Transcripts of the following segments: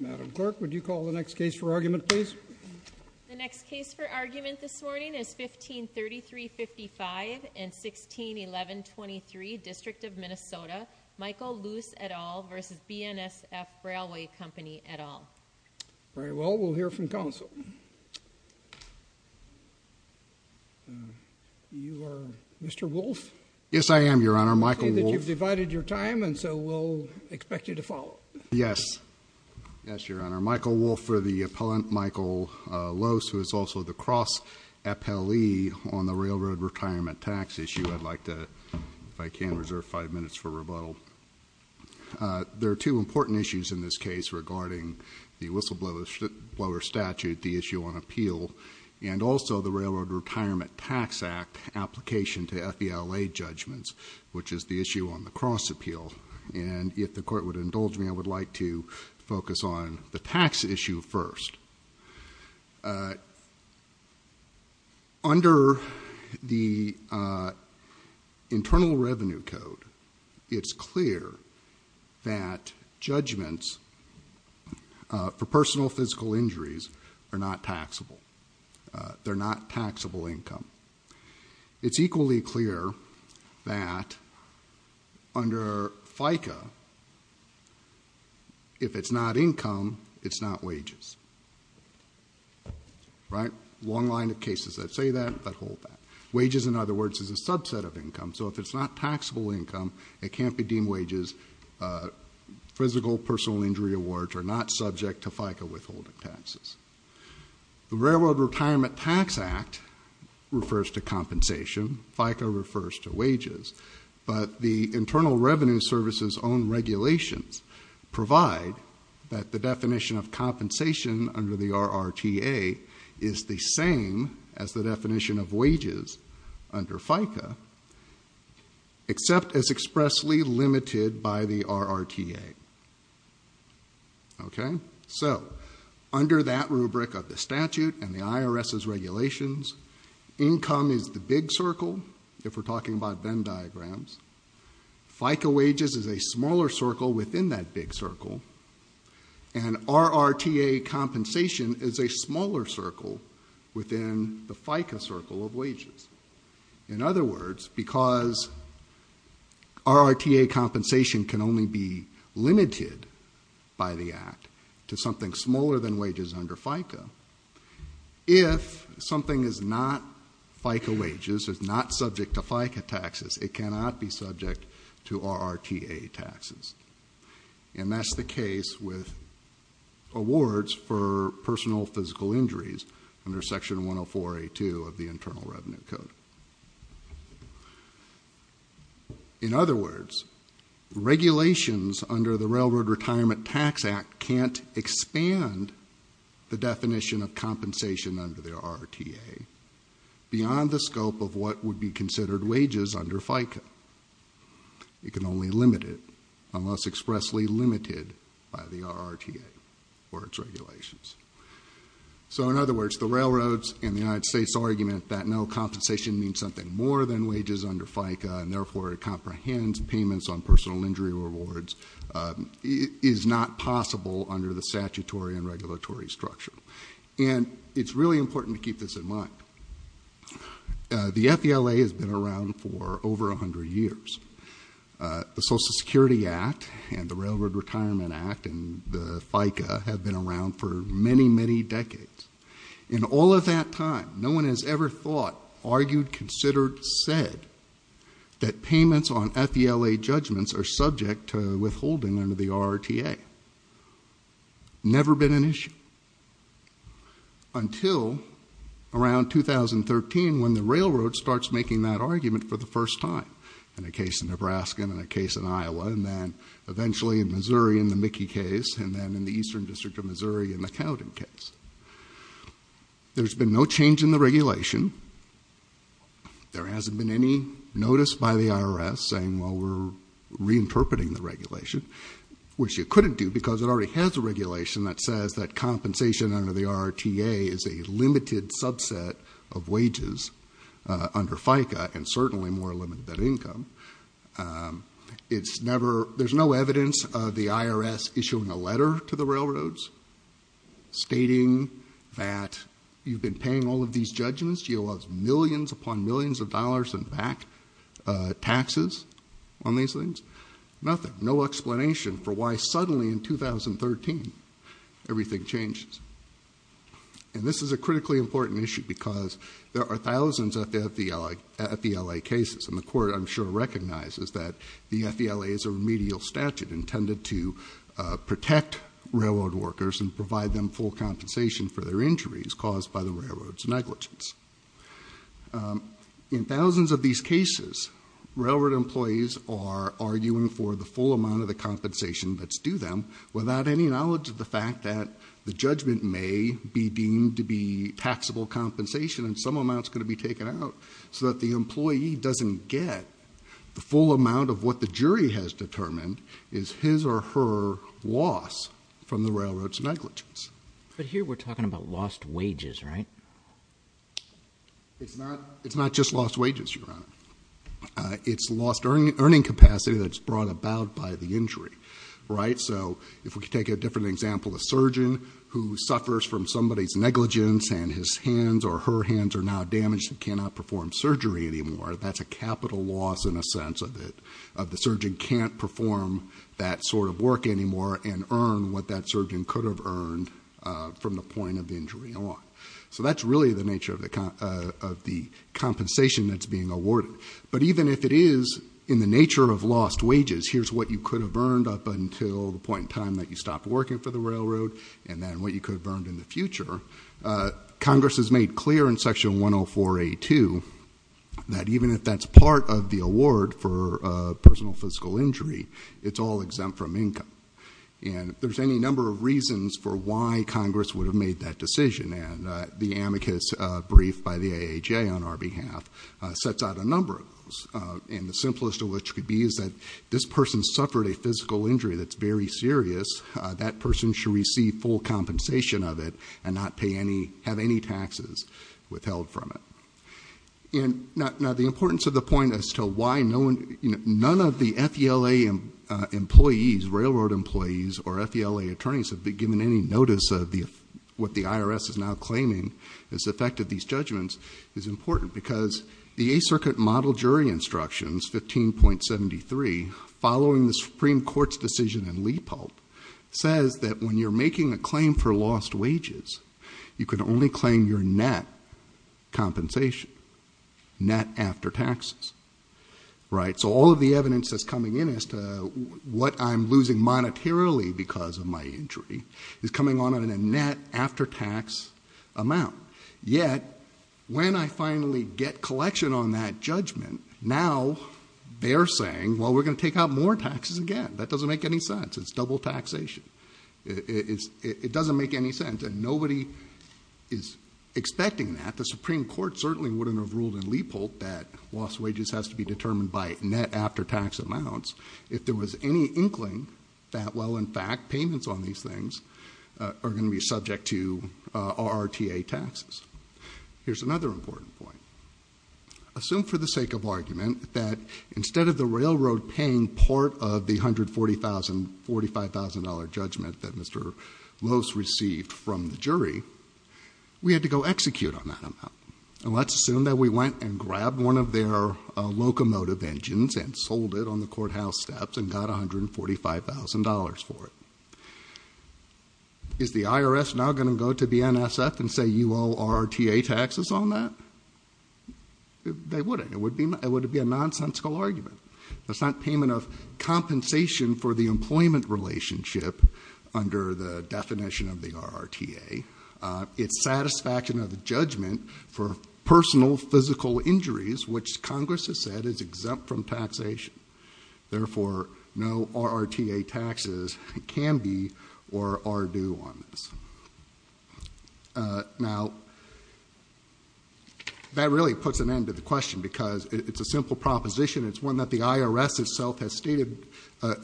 Madam Clerk, would you call the next case for argument, please? The next case for argument this morning is 15 33 55 and 16 11 23 District of Minnesota Michael loose at all versus BNSF Railway Company at all Very well, we'll hear from counsel Mr. Wolf yes, I am your honor Michael divided your time, and so we'll expect you to follow Yes Yes, your honor Michael wolf for the appellant Michael Lowe's who is also the cross Appellee on the railroad retirement tax issue. I'd like to if I can reserve five minutes for rebuttal There are two important issues in this case regarding the whistleblower Blower statute the issue on appeal and also the Railroad Retirement Tax Act Application to FBI lay judgments Which is the issue on the cross appeal and if the court would indulge me I would like to focus on the tax issue first Under the Internal revenue code it's clear that judgments For personal physical injuries are not taxable They're not taxable income It's equally clear that Under FICA If it's not income it's not wages Right long line of cases that say that but hold that wages in other words is a subset of income So if it's not taxable income it can't be deemed wages Physical personal injury awards are not subject to FICA withholding taxes the Railroad Retirement Tax Act Refers to compensation FICA refers to wages, but the Internal Revenue Service's own regulations provide that the definition of compensation under the RRTA is the same as the definition of wages under FICA Except as expressly limited by the RRTA Okay, so under that rubric of the statute and the IRS's regulations Income is the big circle if we're talking about Venn diagrams FICA wages is a smaller circle within that big circle and RRTA compensation is a smaller circle within the FICA circle of wages in other words because RRTA compensation can only be limited by the act to something smaller than wages under FICA If something is not FICA wages is not subject to FICA taxes. It cannot be subject to RRTA taxes and that's the case with Awards for personal physical injuries under section 104 a 2 of the Internal Revenue Code In other words regulations under the Railroad Retirement Tax Act can't expand The definition of compensation under the RRTA Beyond the scope of what would be considered wages under FICA It can only limit it unless expressly limited by the RRTA or its regulations So in other words the railroads in the United States argument that no Compensation means something more than wages under FICA and therefore it comprehends payments on personal injury rewards Is not possible under the statutory and regulatory structure, and it's really important to keep this in mind The FELA has been around for over a hundred years The Social Security Act and the Railroad Retirement Act and the FICA have been around for many many decades In all of that time no one has ever thought argued considered said That payments on FELA judgments are subject to withholding under the RRTA Never been an issue Until around 2013 when the railroad starts making that argument for the first time in a case in Nebraska and in a case in Iowa and then Eventually in Missouri in the Mickey case and then in the Eastern District of Missouri in the Cowden case There's been no change in the regulation There hasn't been any notice by the IRS saying well, we're reinterpreting the regulation Which you couldn't do because it already has a regulation that says that compensation under the RRTA is a limited subset of wages Under FICA and certainly more limited than income It's never there's no evidence of the IRS issuing a letter to the railroads Stating that you've been paying all of these judgments you owe us millions upon millions of dollars and back Taxes on these things nothing no explanation for why suddenly in 2013 everything changes and This is a critically important issue because there are thousands at the FELA cases and the court I'm sure recognizes that the FELA is a remedial statute intended to Protect railroad workers and provide them full compensation for their injuries caused by the railroads negligence In thousands of these cases Railroad employees are arguing for the full amount of the compensation Let's do them without any knowledge of the fact that the judgment may be deemed to be Taxable compensation and some amounts going to be taken out so that the employee doesn't get The full amount of what the jury has determined is his or her loss from the railroads negligence But here we're talking about lost wages, right? It's not it's not just lost wages you're on It's lost earning earning capacity that's brought about by the injury, right? So if we could take a different example a surgeon who suffers from somebody's negligence And his hands or her hands are now damaged and cannot perform surgery anymore That's a capital loss in a sense of it of the surgeon can't perform That sort of work anymore and earn what that surgeon could have earned From the point of injury on so that's really the nature of the kind of the compensation that's being awarded But even if it is in the nature of lost wages Here's what you could have earned up until the point in time that you stopped working for the railroad and then what you could have earned in the future Congress has made clear in section 104 a to That even if that's part of the award for personal physical injury It's all exempt from income And there's any number of reasons for why Congress would have made that decision and the amicus brief by the AHA on our behalf Sets out a number of those and the simplest of which could be is that this person suffered a physical injury That's very serious that person should receive full compensation of it and not pay any have any taxes Withheld from it And not now the importance of the point as to why no one none of the FDLA employees railroad employees or FDLA attorneys have been given any notice of the What the IRS is now claiming has affected these judgments is important because the a circuit model jury instructions 15.73 following the Supreme Court's decision in Lee pulp says that when you're making a claim for lost wages You can only claim your net compensation net after taxes Right. So all of the evidence that's coming in as to what I'm losing Monetarily because of my injury is coming on in a net after-tax amount yet When I finally get collection on that judgment now They're saying well, we're gonna take out more taxes again. That doesn't make any sense. It's double taxation It's it doesn't make any sense and nobody is Expecting that the Supreme Court certainly wouldn't have ruled in Leopold that lost wages has to be determined by net after-tax amounts If there was any inkling that well, in fact payments on these things Are going to be subject to our ta taxes. Here's another important point Assume for the sake of argument that instead of the railroad paying part of the hundred forty thousand forty five thousand dollar Judgment that mr. Lowe's received from the jury We had to go execute on that amount and let's assume that we went and grabbed one of their Locomotive engines and sold it on the courthouse steps and got a hundred and forty five thousand dollars for it Is the IRS now going to go to the NSF and say you all are ta taxes on that They wouldn't it would be it would be a nonsensical argument. That's not payment of compensation for the employment relationship under the definition of the RRT a It's satisfaction of the judgment for personal physical injuries, which Congress has said is exempt from taxation Therefore no RRT a taxes can be or are due on this Now That really puts an end to the question because it's a simple proposition It's one that the IRS itself has stated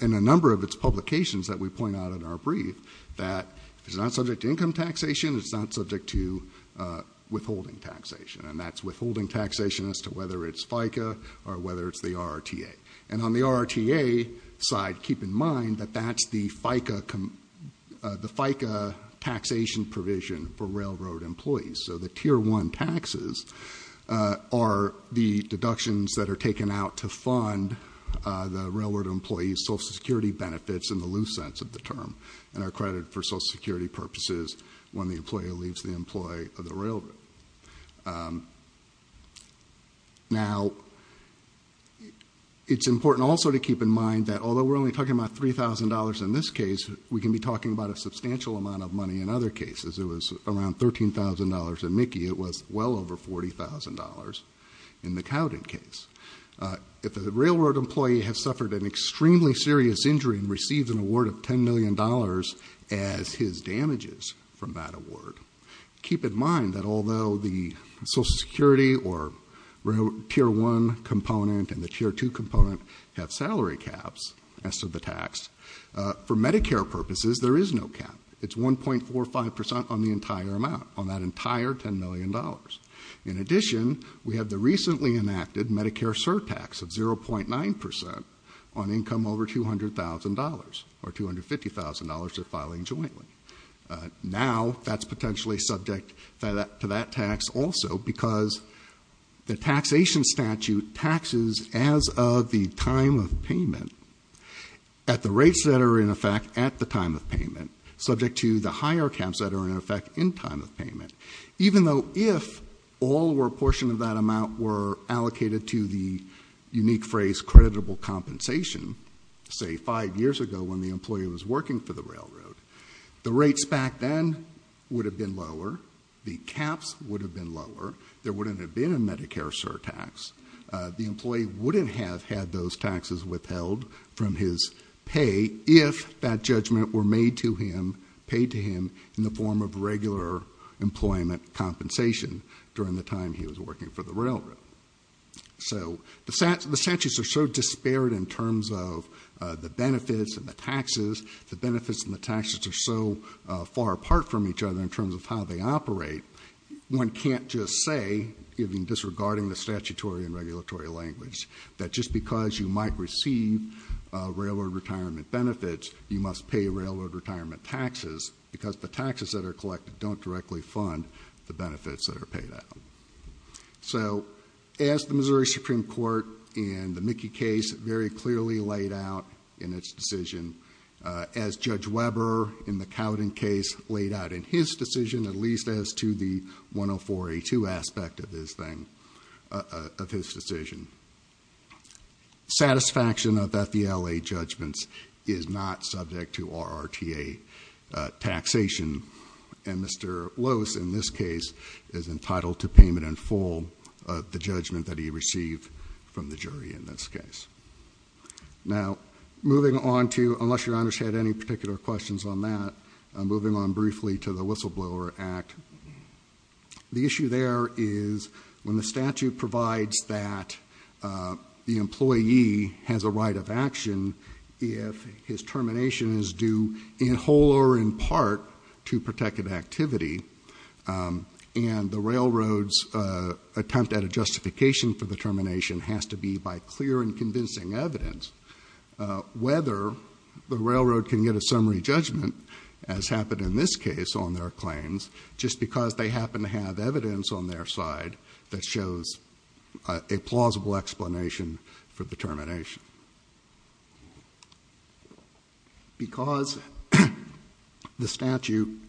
In a number of its publications that we point out in our brief that it's not subject to income taxation. It's not subject to Withholding taxation and that's withholding taxation as to whether it's FICA or whether it's the RRT a and on the RRT a Side keep in mind that that's the FICA the FICA taxation provision for railroad employees, so the tier one taxes Are the deductions that are taken out to fund The railroad employees Social Security benefits in the loose sense of the term and our credit for Social Security purposes When the employer leaves the employee of the railroad Now It's important also to keep in mind that although we're only talking about $3,000 in this case we can be talking about a substantial amount of money in other cases It was around $13,000 in Mickey. It was well over $40,000 in the Cowden case if the railroad employee has suffered an extremely serious injury and receives an award of ten million dollars as his damages from that award keep in mind that although the Social Security or Tier one component and the tier two component have salary caps as to the tax For Medicare purposes there is no cap It's one point four or five percent on the entire amount on that entire ten million dollars in addition We have the recently enacted Medicare surtax of zero point nine percent on income over $200,000 or two hundred fifty thousand dollars that filing jointly now that's potentially subject to that to that tax also because The taxation statute taxes as of the time of payment At the rates that are in effect at the time of payment subject to the higher caps that are in effect in time of payment even though if All were portion of that amount were allocated to the unique phrase creditable compensation Say five years ago when the employee was working for the railroad the rates back Then would have been lower the caps would have been lower there wouldn't have been a Medicare surtax The employee wouldn't have had those taxes withheld from his pay if that judgment were made to him Paid to him in the form of regular Employment compensation during the time he was working for the railroad so the stats the statues are so disparate in terms of The benefits and the taxes the benefits and the taxes are so far apart from each other in terms of how they operate One can't just say even disregarding the statutory and regulatory language that just because you might receive Railroad retirement benefits you must pay railroad retirement taxes because the taxes that are collected don't directly fund the benefits that are paid out So as the Missouri Supreme Court in the Mickey case very clearly laid out in its decision As Judge Weber in the Cowden case laid out in his decision at least as to the 104a2 aspect of this thing of his decision Satisfaction of that the LA judgments is not subject to our RTA Taxation and Mr. Lowe's in this case is entitled to payment in full of the judgment that he received from the jury in this case Now moving on to unless your honors had any particular questions on that I'm moving on briefly to the whistleblower act the issue there is when the statute provides that The employee has a right of action If his termination is due in whole or in part to protected activity and the railroads Attempt at a justification for the termination has to be by clear and convincing evidence Whether the railroad can get a summary judgment as happened in this case on their claims Just because they happen to have evidence on their side that shows a plausible explanation for the termination Because the statute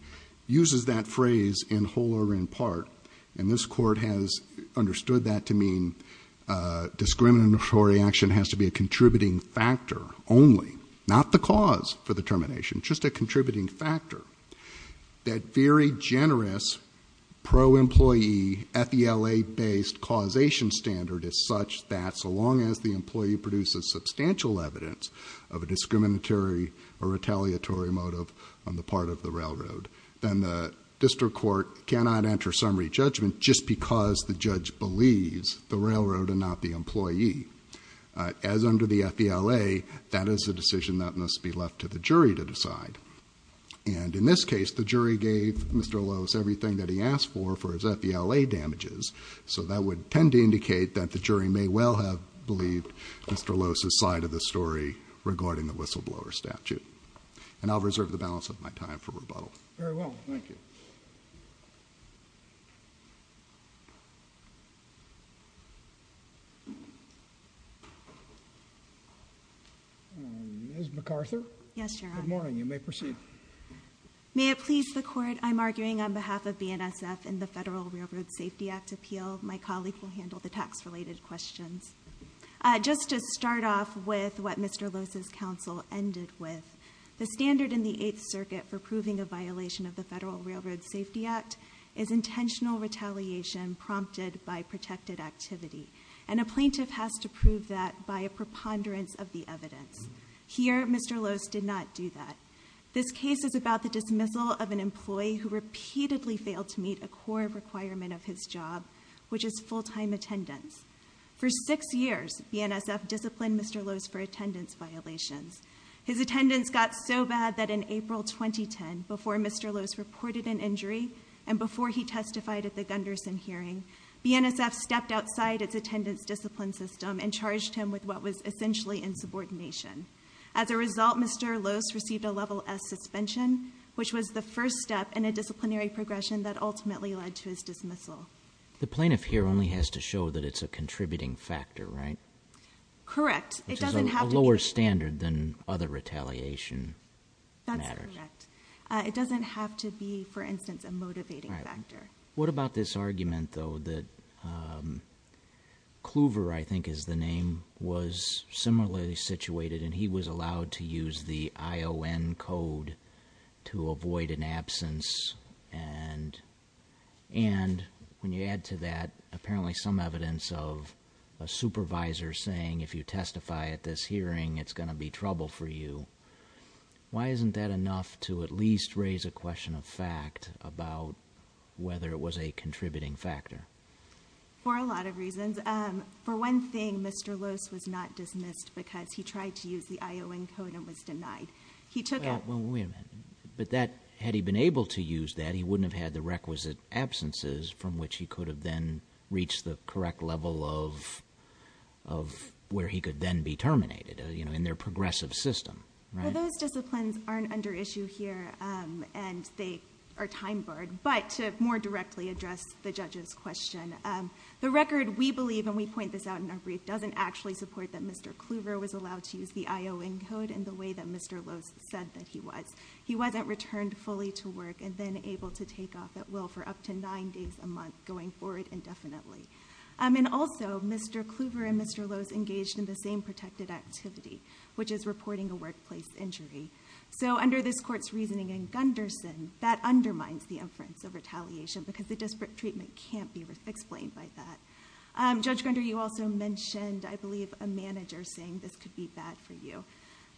Uses that phrase in whole or in part and this court has understood that to mean Discriminatory action has to be a contributing factor only not the cause for the termination just a contributing factor that very generous pro employee at the LA based causation standard as such that so long as the employee produces Substantial evidence of a discriminatory or retaliatory motive on the part of the railroad Then the district court cannot enter summary judgment just because the judge believes the railroad and not the employee As under the FBLA that is a decision that must be left to the jury to decide And in this case the jury gave mr. Lowe's everything that he asked for for his FBLA damages So that would tend to indicate that the jury may well have believed mr. Lowe's aside of the story regarding the whistleblower statute, and I'll reserve the balance of my time for rebuttal MacArthur yes morning you may proceed May it please the court I'm arguing on behalf of BNSF and the Federal Railroad Safety Act appeal My colleague will handle the tax related questions Just to start off with what mr Lowe's his counsel ended with the standard in the Eighth Circuit for proving a violation of the Federal Railroad Safety Act is intentional retaliation Prompted by protected activity and a plaintiff has to prove that by a preponderance of the evidence here Mr. Lowe's did not do that This case is about the dismissal of an employee who repeatedly failed to meet a core requirement of his job Which is full-time attendance for six years BNSF disciplined mr. Lowe's for attendance violations his attendance got so bad that in April 2010 before mr Lowe's reported an injury and before he testified at the Gunderson hearing BNSF stepped outside its attendance discipline system and charged him with what was essentially in subordination as a result Mr. Lowe's received a level-s suspension Which was the first step in a disciplinary progression that ultimately led to his dismissal The plaintiff here only has to show that it's a contributing factor, right? Correct. It doesn't have a lower standard than other retaliation It doesn't have to be for instance a motivating factor What about this argument though that Kluver I think is the name was similarly situated and he was allowed to use the ION code to avoid an absence and And when you add to that apparently some evidence of a Supervisor saying if you testify at this hearing it's gonna be trouble for you Why isn't that enough to at least raise a question of fact about? Whether it was a contributing factor For a lot of reasons for one thing. Mr. Lowe's was not dismissed because he tried to use the ION code and was denied He took out women, but that had he been able to use that he wouldn't have had the requisite absences from which he could have then reached the correct level of Where he could then be terminated, you know in their progressive system those disciplines aren't under issue here And they are time barred but to more directly address the judges question The record we believe and we point this out in our brief doesn't actually support that Mr. Kluver was allowed to use the ION code in the way that mr Lowe's said that he was he wasn't returned fully to work and then able to take off at will for up to nine days a Month going forward indefinitely. I mean also mr. Kluver and mr Lowe's engaged in the same protected activity, which is reporting a workplace injury So under this court's reasoning in Gunderson that undermines the inference of retaliation because the disparate treatment can't be explained by that Judge Gunder you also mentioned I believe a manager saying this could be bad for you.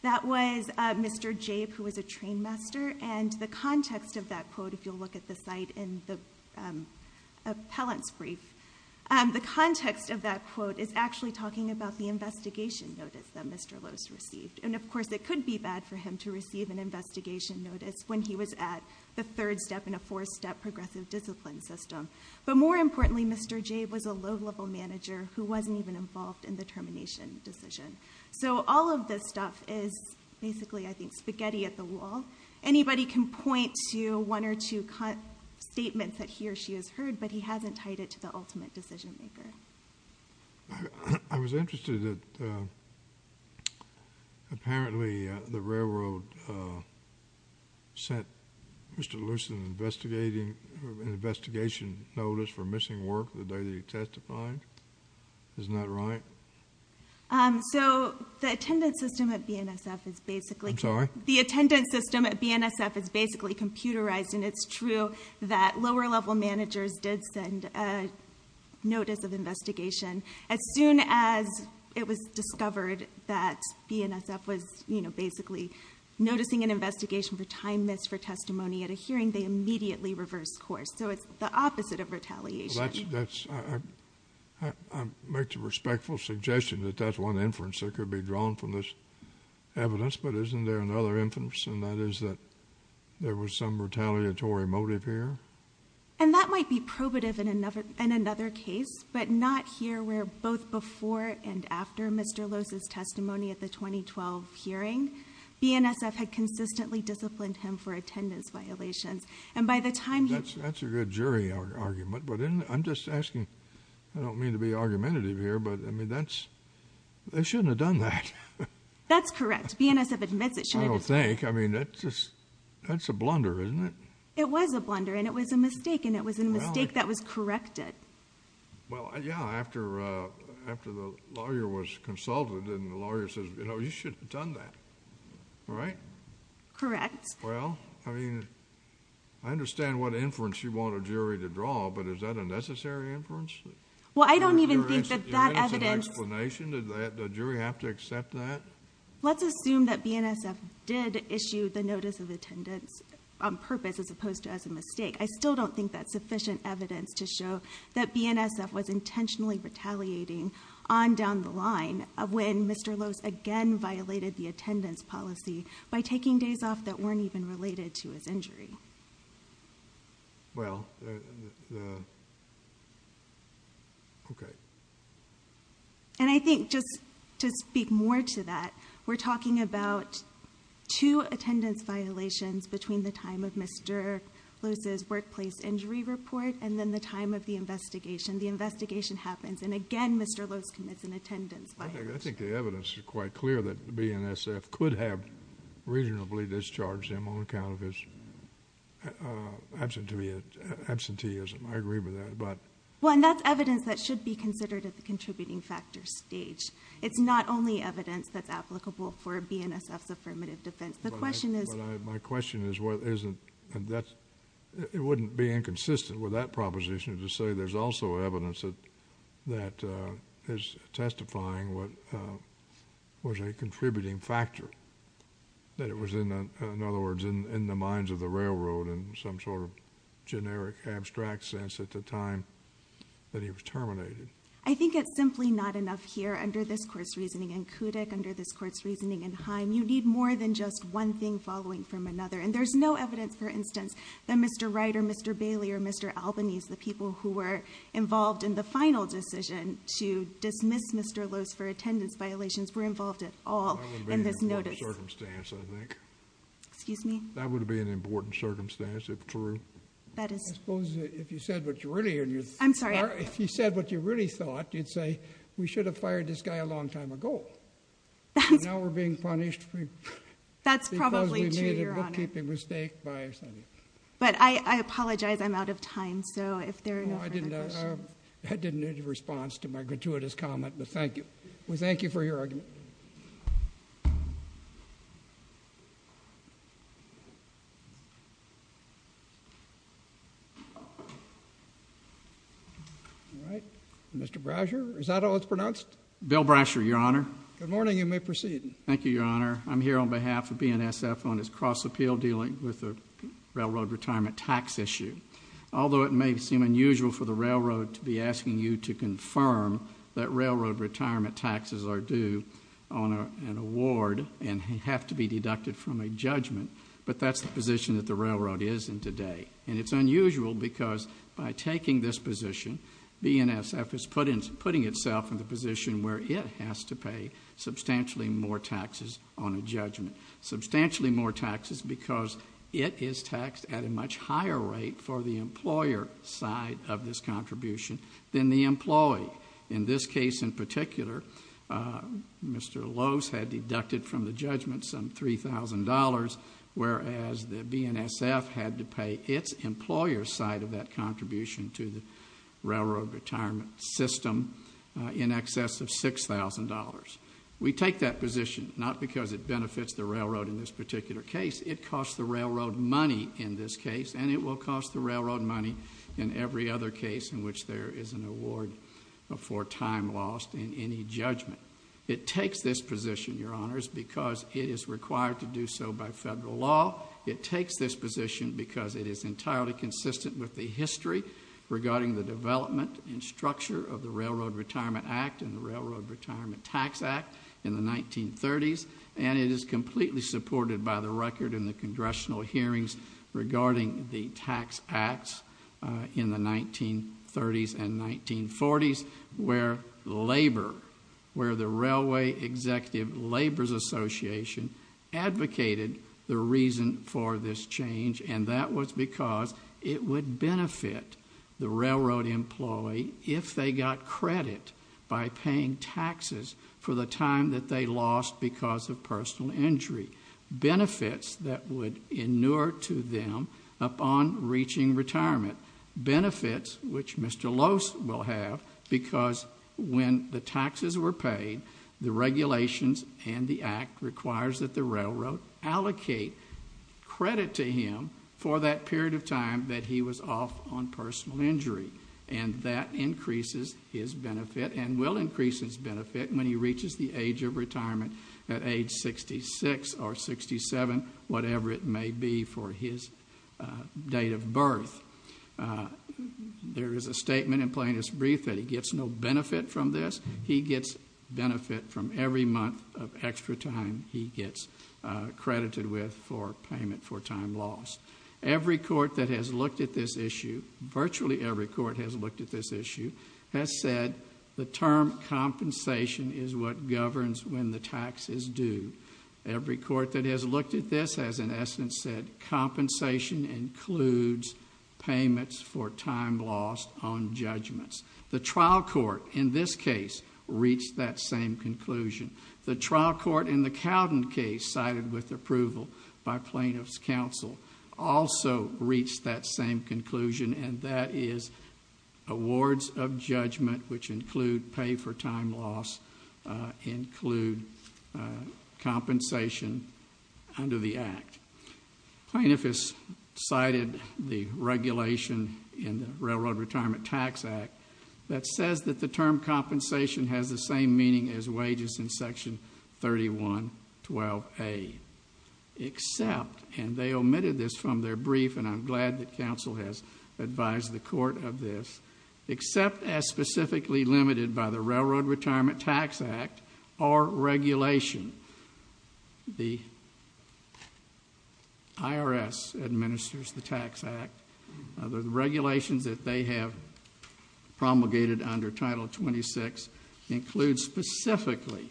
That was Mr. J who was a train master and the context of that quote if you'll look at the site in the appellant's brief The context of that quote is actually talking about the investigation That mr Lowe's received and of course it could be bad for him to receive an investigation notice when he was at the third step in a Four-step progressive discipline system, but more importantly, mr. J was a low-level manager who wasn't even involved in the termination decision So all of this stuff is basically I think spaghetti at the wall Anybody can point to one or two cut statements that he or she has heard but he hasn't tied it to the ultimate decision-maker. I Apparently the railroad Sent mr. Lewis an investigating Investigation notice for missing work the day they testified Is not right So the attendance system at BNSF is basically sorry the attendance system at BNSF is basically computerized and it's true that lower-level managers did send a It was discovered that BNSF was you know, basically Noticing an investigation for time missed for testimony at a hearing they immediately reverse course. So it's the opposite of retaliation Make the respectful suggestion that that's one inference that could be drawn from this evidence, but isn't there another inference and that is that there was some retaliatory motive here and That might be probative in another in another case, but not here. We're both before and after mr Lowe's his testimony at the 2012 hearing BNSF had consistently disciplined him for attendance violations. And by the time that's a good jury argument But I'm just asking I don't mean to be argumentative here. But I mean, that's They shouldn't have done that That's correct. BNSF admits it. I don't think I mean, that's just that's a blunder, isn't it? It was a blunder and it was a mistake and it was a mistake. That was corrected Well, yeah after after the lawyer was consulted and the lawyer says, you know, you should have done that All right Correct. Well, I mean, I Understand what inference you want a jury to draw but is that a necessary inference? Well, I don't even think that that evidence Explanation that the jury have to accept that Let's assume that BNSF did issue the notice of attendance on purpose as opposed to as a mistake I still don't think that's sufficient evidence to show that BNSF was intentionally Retaliating on down the line of when mr Lowe's again violated the attendance policy by taking days off that weren't even related to his injury Well Okay And I think just to speak more to that we're talking about two attendance violations between the time of mr Lose's workplace injury report and then the time of the investigation the investigation happens and again, mr. Lowe's commits an attendance, but I think the evidence is quite clear that BNSF could have reasonably discharged him on account of his Absent to be a Absenteeism I agree with that. But when that's evidence that should be considered at the contributing factor stage It's not only evidence that's applicable for BNSF's affirmative defense. The question is my question is what isn't and that's It wouldn't be inconsistent with that proposition to say there's also evidence that that is testifying. What? Was a contributing factor That it was in another words in the minds of the railroad and some sort of generic abstract sense at the time That he was terminated I think it's simply not enough here under this course reasoning and kudak under this court's reasoning in Haim You need more than just one thing following from another and there's no evidence for instance that mr. Wright or mr. Bailey or mr Albany's the people who were involved in the final decision to dismiss. Mr. Attendance violations were involved at all Excuse me, that would be an important circumstance if true I'm sorry, if you said what you really thought you'd say we should have fired this guy a long time ago Now we're being punished That's probably We thank you for your argument Mr. Brasher, is that all it's pronounced bill Brasher your honor. Good morning. You may proceed. Thank you your honor I'm here on behalf of BNSF on his cross appeal dealing with a Railroad retirement tax issue Although it may seem unusual for the railroad to be asking you to confirm that railroad retirement taxes are due on An award and have to be deducted from a judgment But that's the position that the railroad is in today and it's unusual because by taking this position BNSF is put in putting itself in the position where it has to pay substantially more taxes on a judgment Substantially more taxes because it is taxed at a much higher rate for the employer side of this Contribution than the employee in this case in particular Mr. Lowe's had deducted from the judgment some three thousand dollars whereas the BNSF had to pay its employer side of that contribution to the railroad retirement system In excess of six thousand dollars we take that position not because it benefits the railroad in this particular case It costs the railroad money in this case and it will cost the railroad money in Every other case in which there is an award before time lost in any judgment It takes this position your honors because it is required to do so by federal law It takes this position because it is entirely consistent with the history Regarding the development and structure of the Railroad Retirement Act and the Railroad Retirement Tax Act in the 1930s And it is completely supported by the record in the congressional hearings regarding the tax acts in the 1930s and 1940s where labor where the railway executive Labor's Association Advocated the reason for this change and that was because it would benefit the railroad employee if they got credit by paying taxes for the time that they lost because of personal injury Benefits that would inure to them upon reaching retirement benefits, which mr. Lowe's will have because when the taxes were paid the Regulations and the act requires that the railroad allocate credit to him for that period of time that he was off on personal injury and that Increases his benefit and will increase his benefit when he reaches the age of retirement at age 66 or 67 whatever it may be for his date of birth There is a statement in plaintiff's brief that he gets no benefit from this he gets benefit from every month of extra time he gets Credited with for payment for time lost Every court that has looked at this issue virtually every court has looked at this issue has said the term Compensation is what governs when the taxes do every court that has looked at this as an essence said compensation includes payments for time lost on judgments the trial court in this case Reached that same conclusion the trial court in the Cowden case cited with approval by plaintiffs counsel also reached that same conclusion and that is awards of judgment which include pay for time loss include Compensation under the act plaintiff is cited the Regulation in the Railroad Retirement Tax Act that says that the term compensation has the same meaning as wages in section 31 12 a Except and they omitted this from their brief and I'm glad that counsel has advised the court of this except as specifically limited by the Railroad Retirement Tax Act or regulation the IRS administers the Tax Act other the regulations that they have promulgated under title 26 includes specifically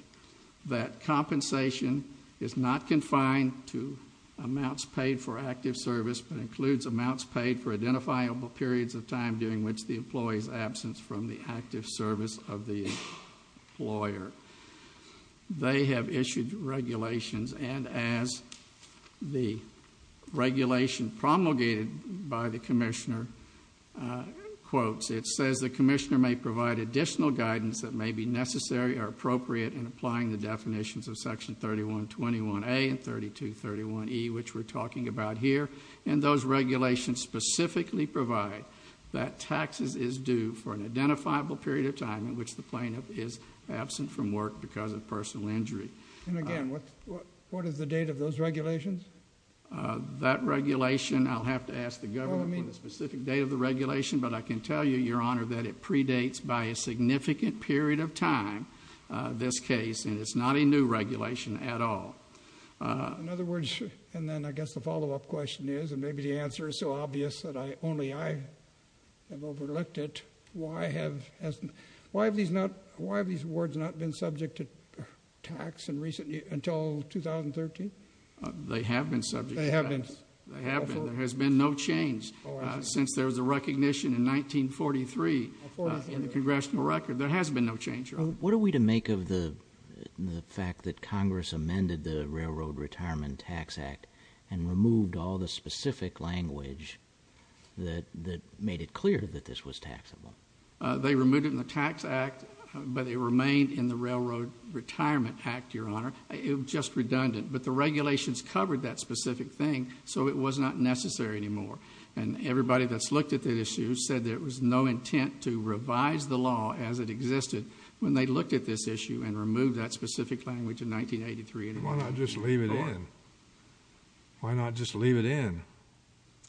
That compensation is not confined to amounts paid for active service but includes amounts paid for identifiable periods of time during which the employees absence from the active service of the lawyer they have issued regulations and as the regulation promulgated by the Commissioner Quotes, it says the Commissioner may provide additional guidance that may be necessary or appropriate in applying the definitions of section 3121 a and 32 31 e which we're talking about here and those regulations specifically provide that Taxes is due for an identifiable period of time in which the plaintiff is absent from work because of personal injury What is the date of those regulations That regulation I'll have to ask the government a specific date of the regulation But I can tell you your honor that it predates by a significant period of time This case and it's not a new regulation at all In other words, and then I guess the follow-up question is and maybe the answer is so obvious that I only I Have overlooked it. Why have as why have these not why have these words not been subject to? Tax and recently until 2013 they have been subject they have been there has been no change since there was a recognition in 1943 in the congressional record there has been no change. What are we to make of the Fact that Congress amended the Railroad Retirement Tax Act and removed all the specific language That that made it clear that this was taxable They removed it in the Tax Act, but it remained in the Railroad Retirement Act your honor It was just redundant, but the regulations covered that specific thing So it was not necessary anymore and everybody that's looked at the issue said there was no intent to revise the law as it existed When they looked at this issue and removed that specific language in 1983 and why not just leave it in Why not just leave it in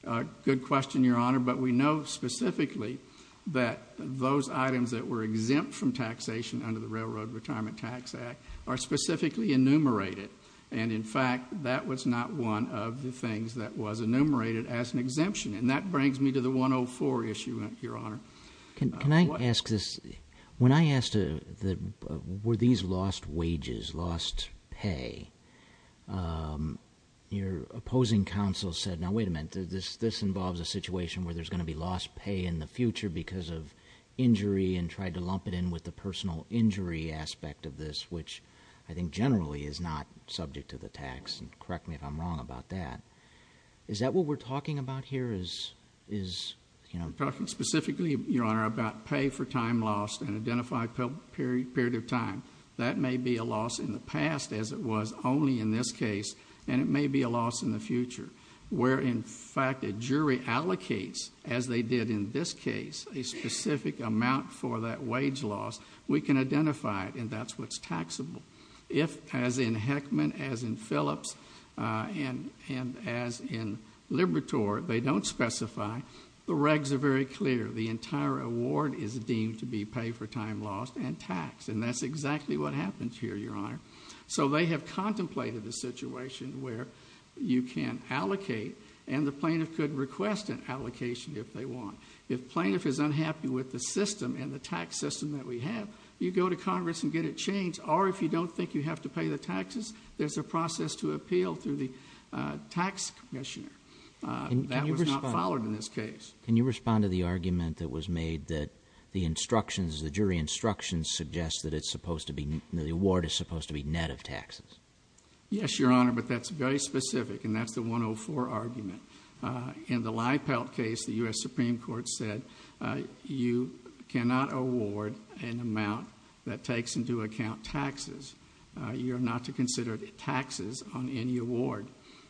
a good question your honor, but we know specifically that Those items that were exempt from taxation under the Railroad Retirement Tax Act are specifically enumerated And in fact that was not one of the things that was enumerated as an exemption and that brings me to the 104 issue Your honor. Can I ask this when I asked to the were these lost wages lost pay? Your opposing council said now wait a minute this this involves a situation where there's going to be lost pay in the future because of Injury and tried to lump it in with the personal injury aspect of this Which I think generally is not subject to the tax and correct me if I'm wrong about that Is that what we're talking about here is is you know talking specifically your honor about pay for time lost and identified? Period period of time that may be a loss in the past as it was only in this case And it may be a loss in the future where in fact a jury allocates as they did in this case a Specific amount for that wage loss we can identify it, and that's what's taxable if as in Heckman as in Phillips and and as in Libertor they don't specify the regs are very clear the entire award is deemed to be paid for time lost and taxed And that's exactly what happens here your honor, so they have contemplated the situation where you can't allocate And the plaintiff could request an allocation if they want if plaintiff is unhappy with the system and the tax system that we have You go to Congress and get it changed, or if you don't think you have to pay the taxes There's a process to appeal through the tax commissioner That was not followed in this case Can you respond to the argument that was made that the instructions the jury? Instructions suggests that it's supposed to be the award is supposed to be net of taxes Yes, your honor, but that's very specific, and that's the 104 argument in the lie Pelt case the US Supreme Court said You cannot award an amount that takes into account taxes You're not to consider it taxes on any award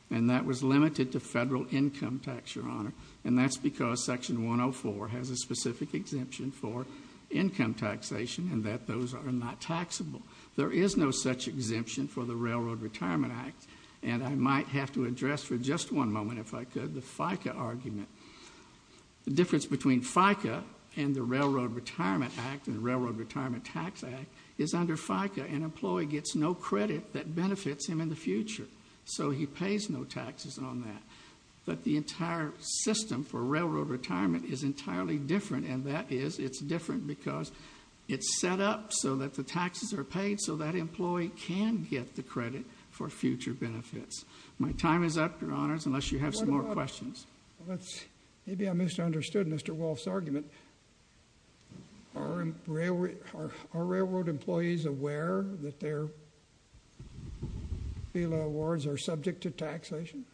and that was limited to federal income tax your honor And that's because section 104 has a specific exemption for income Taxation and that those are not taxable there is no such exemption for the Railroad Retirement Act And I might have to address for just one moment if I could the FICA argument The difference between FICA and the Railroad Retirement Act and Railroad Retirement Tax Act is under FICA an employee gets no Credit that benefits him in the future, so he pays no taxes on that But the entire system for Railroad Retirement is entirely different And that is it's different because it's set up so that the taxes are paid so that employee can get the credit for Future benefits my time is up your honors unless you have some more questions. Let's maybe I misunderstood mr. Walsh's argument Our Railroad our Railroad employees aware that their Fila awards are subject to taxation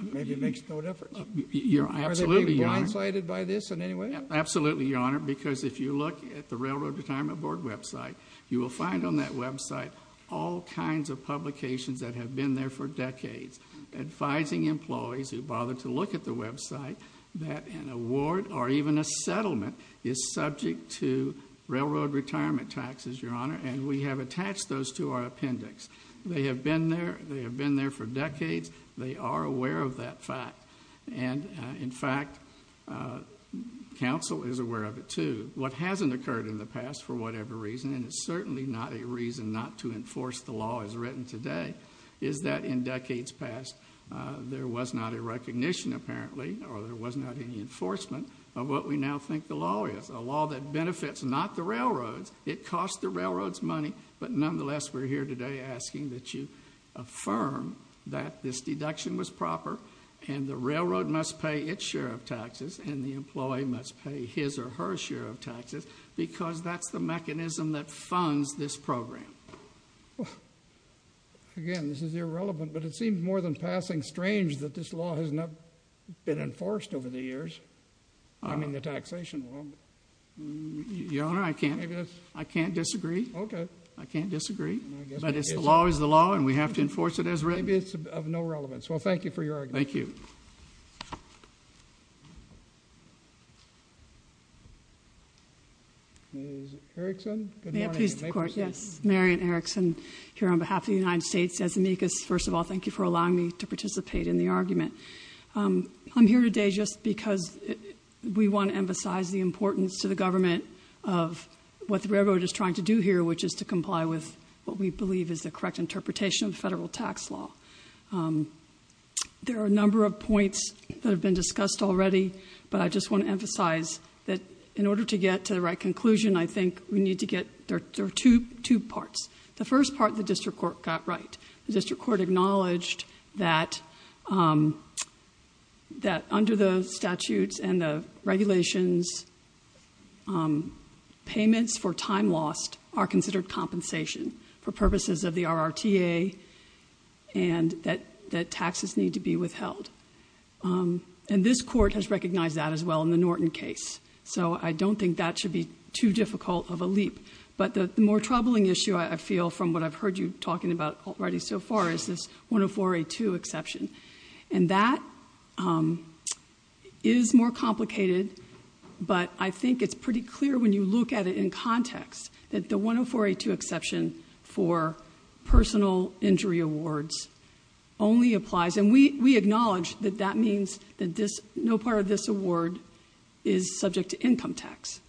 Maybe makes no difference You're absolutely Blindsided by this in any way absolutely your honor because if you look at the Railroad Retirement Board website you will find on that website All kinds of publications that have been there for decades advising employees who bother to look at the website that an award or even a settlement is subject to Railroad retirement taxes your honor, and we have attached those to our appendix they have been there They have been there for decades They are aware of that fact and in fact Council is aware of it to what hasn't occurred in the past for whatever reason and it's certainly not a reason not to enforce The law is written today. Is that in decades past? There was not a recognition apparently or there was not any Enforcement of what we now think the law is a law that benefits not the railroads it cost the railroads money But nonetheless we're here today asking that you Affirm that this deduction was proper and the railroad must pay its share of taxes and the employee must pay his or her Share of taxes because that's the mechanism that funds this program Again this is irrelevant, but it seems more than passing strange that this law has not been enforced over the years I mean the taxation Your honor I can't I can't disagree okay I can't disagree, but it's the law is the law and we have to enforce it as written. It's of no relevance Well, thank you for your thank you Yes, Marianne Erickson here on behalf of the United States as amicus first of all Thank you for allowing me to participate in the argument I'm here today. Just because we want to emphasize the importance to the government of What the railroad is trying to do here, which is to comply with what we believe is the correct interpretation of federal tax law There are a number of points that have been discussed already But I just want to emphasize that in order to get to the right conclusion I think we need to get there to two parts the first part the district court got right the district court acknowledged that That under the statutes and the regulations On payments for time lost are considered compensation for purposes of the RRTA and That that taxes need to be withheld And this court has recognized that as well in the Norton case So I don't think that should be too difficult of a leap But the more troubling issue I feel from what I've heard you talking about already so far is this 104 a to exception and that? Is more complicated But I think it's pretty clear when you look at it in context that the 104 a to exception for personal injury awards Only applies and we we acknowledge that that means that this no part of this award is subject to income tax,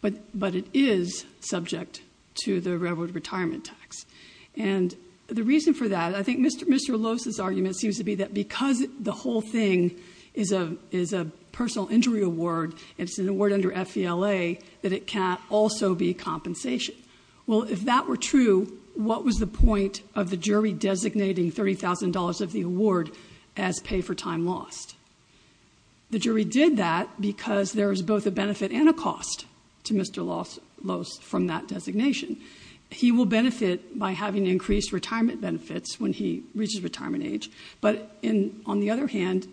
but but it is subject to the railroad retirement tax and The reason for that I think mr Lose's argument seems to be that because the whole thing is a is a personal injury award It's an award under FELA that it can't also be compensation. Well, if that were true What was the point of the jury designating $30,000 of the award as pay for time lost? The jury did that because there is both a benefit and a cost to mr. Lose from that designation He will benefit by having increased retirement benefits when he reaches retirement age, but in on the other hand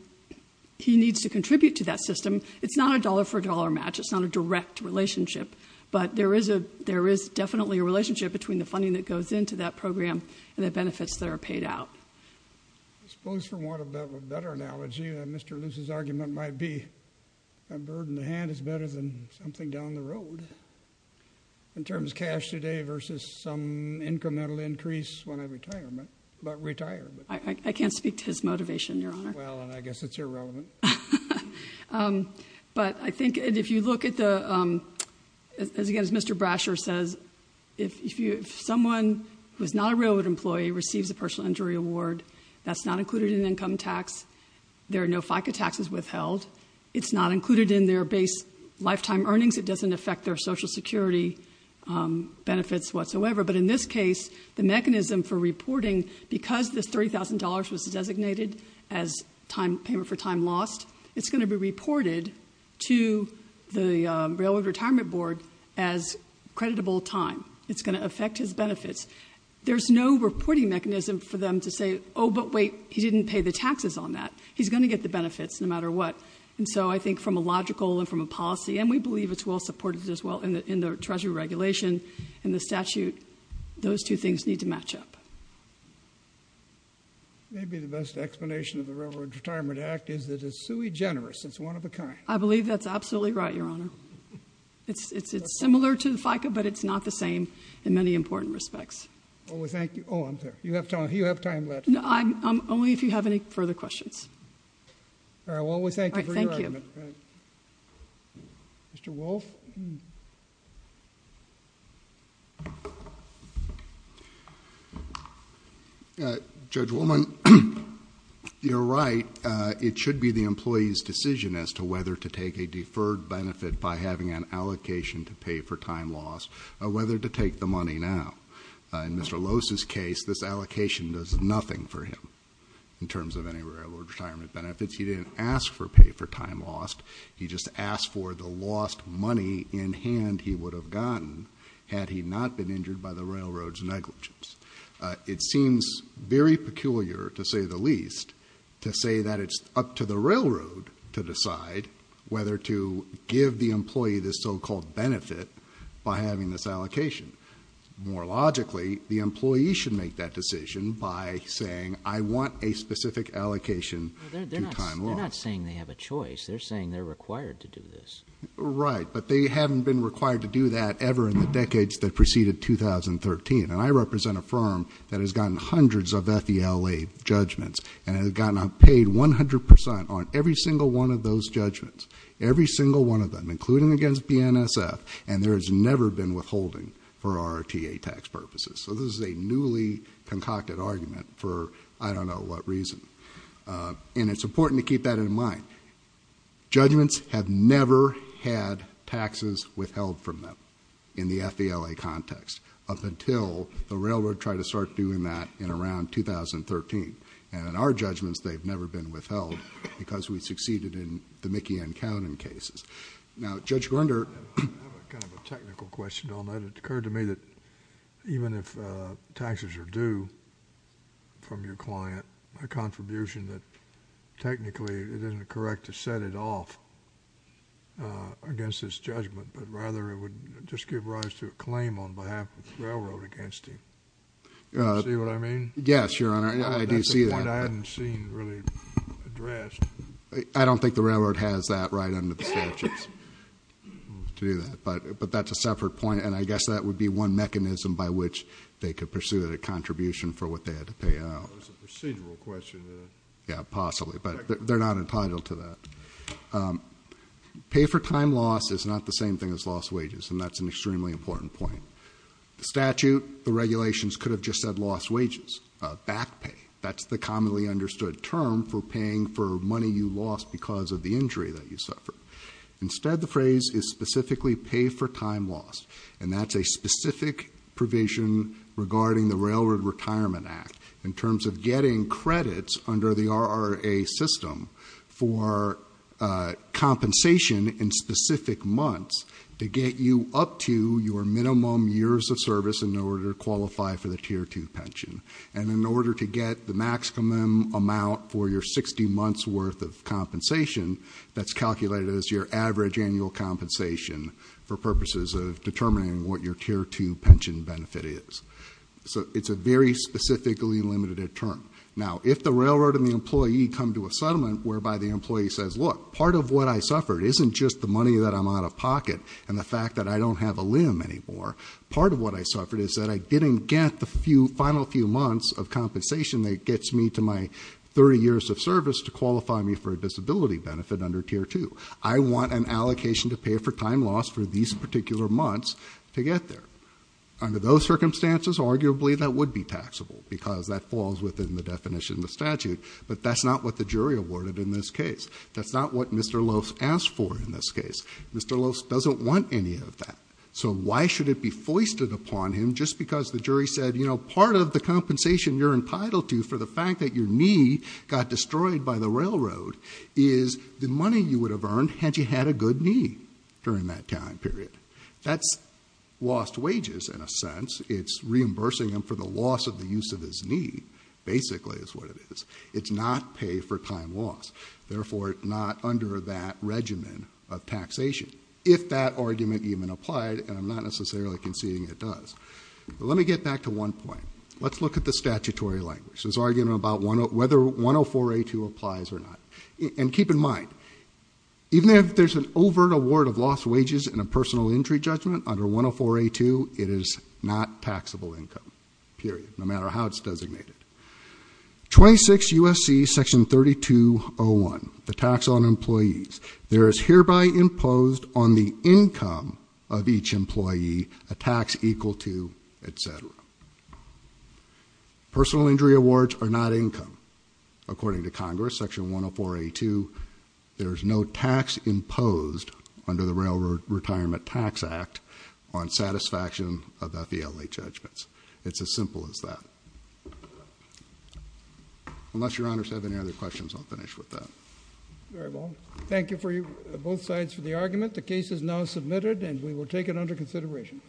He needs to contribute to that system. It's not a dollar-for-dollar match It's not a direct relationship But there is a there is definitely a relationship between the funding that goes into that program and the benefits that are paid out Suppose from what a better analogy. Mr. Luce's argument might be a bird in the hand is better than something down the road In terms cash today versus some incremental increase when I retirement but retire I can't speak to his motivation your honor. Well, I guess it's irrelevant But I think if you look at the As again, as mr. Brasher says if you if someone who's not a railroad employee receives a personal injury award That's not included in income tax. There are no FICA taxes withheld. It's not included in their base lifetime earnings It doesn't affect their Social Security benefits whatsoever but in this case the mechanism for reporting because this $30,000 was designated as Time payment for time lost. It's going to be reported to the Railroad Retirement Board as Creditable time it's going to affect his benefits. There's no reporting mechanism for them to say. Oh, but wait He didn't pay the taxes on that He's going to get the benefits no matter what and so I think from a logical and from a policy and we believe it's Supported as well in the in the Treasury regulation and the statute those two things need to match up Maybe the best explanation of the Railroad Retirement Act is that it's sui generis. It's one of a kind I believe that's absolutely right your honor It's it's it's similar to the FICA, but it's not the same in many important respects. Well, we thank you Oh, I'm there you have time you have time left. No, I'm only if you have any further questions All right. Well, we thank you Mr. Wolf Judge woman You're right it should be the employees decision as to whether to take a deferred benefit by having an Allocation to pay for time loss or whether to take the money now in mr Lowe's his case this allocation does nothing for him in terms of any railroad retirement benefits He didn't ask for pay for time lost. He just asked for the lost money in hand He would have gotten had he not been injured by the railroads negligence It seems very peculiar to say the least to say that it's up to the railroad to decide Whether to give the employee this so-called benefit by having this allocation More logically the employee should make that decision by saying I want a specific allocation Not saying they have a choice. They're saying they're required to do this, right? But they haven't been required to do that ever in the decades that preceded 2013 and I represent a firm that has gotten hundreds of that the LA Judgments and has gotten a paid 100% on every single one of those judgments Every single one of them including against BNSF and there has never been withholding for our TA tax purposes So this is a newly concocted argument for I don't know what reason And it's important to keep that in mind judgments have never had Taxes withheld from them in the FBLA context up until the railroad tried to start doing that in around 2013 and in our judgments, they've never been withheld because we succeeded in the Mickey and counting cases now judge Grinder Technical question on that it occurred to me that even if taxes are due From your client a contribution that technically it isn't correct to set it off Against this judgment, but rather it would just give rise to a claim on behalf of the railroad against him Yes, your honor I don't think the railroad has that right under the statutes To do that, but but that's a separate point And I guess that would be one mechanism by which they could pursue that a contribution for what they had to pay Yeah, possibly but they're not entitled to that Pay for time loss is not the same thing as lost wages and that's an extremely important point The statute the regulations could have just said lost wages back pay That's the commonly understood term for paying for money you lost because of the injury that you suffered Instead the phrase is specifically pay for time loss and that's a specific provision regarding the Railroad Retirement Act in terms of getting credits under the RRA system for Compensation in specific months to get you up to your minimum years of service in order to qualify for the tier 2 pension And in order to get the maximum amount for your 60 months worth of compensation That's calculated as your average annual compensation for purposes of determining what your tier 2 pension benefit is So it's a very specifically limited term now if the railroad and the employee come to a settlement whereby the employee says look part of what I suffered isn't just the money that I'm out of pocket and the fact that I Don't have a limb anymore part of what I suffered is that I didn't get the few final few months of compensation that gets me to my 30 years of service to qualify me for a disability benefit under tier 2 I want an allocation to pay for time loss for these particular months to get there Under those circumstances arguably that would be taxable because that falls within the definition the statute But that's not what the jury awarded in this case. That's not what mr. Lowe's asked for in this case Mr. Lowe's doesn't want any of that So why should it be foisted upon him just because the jury said you know part of the compensation you're entitled to for the fact That your knee got destroyed by the railroad is the money you would have earned had you had a good knee during that time period that's Lost wages in a sense. It's reimbursing him for the loss of the use of his knee Basically is what it is. It's not pay for time loss Therefore not under that regimen of taxation if that argument even applied and I'm not necessarily conceding it does Let me get back to one point Let's look at the statutory language is arguing about one of whether 104 a to applies or not and keep in mind Even if there's an overt award of lost wages and a personal injury judgment under 104 a to it is not taxable income Period no matter how it's designated 26 USC section 3201 the tax on employees there is hereby imposed on the income of each employee a tax equal to etc Personal injury awards are not income according to Congress section 104 a to There is no tax imposed under the railroad retirement tax act on Satisfaction about the LA judgments. It's as simple as that Unless your honors have any other questions, I'll finish with that Thank you for you both sides for the argument the case is now submitted and we will take it under consideration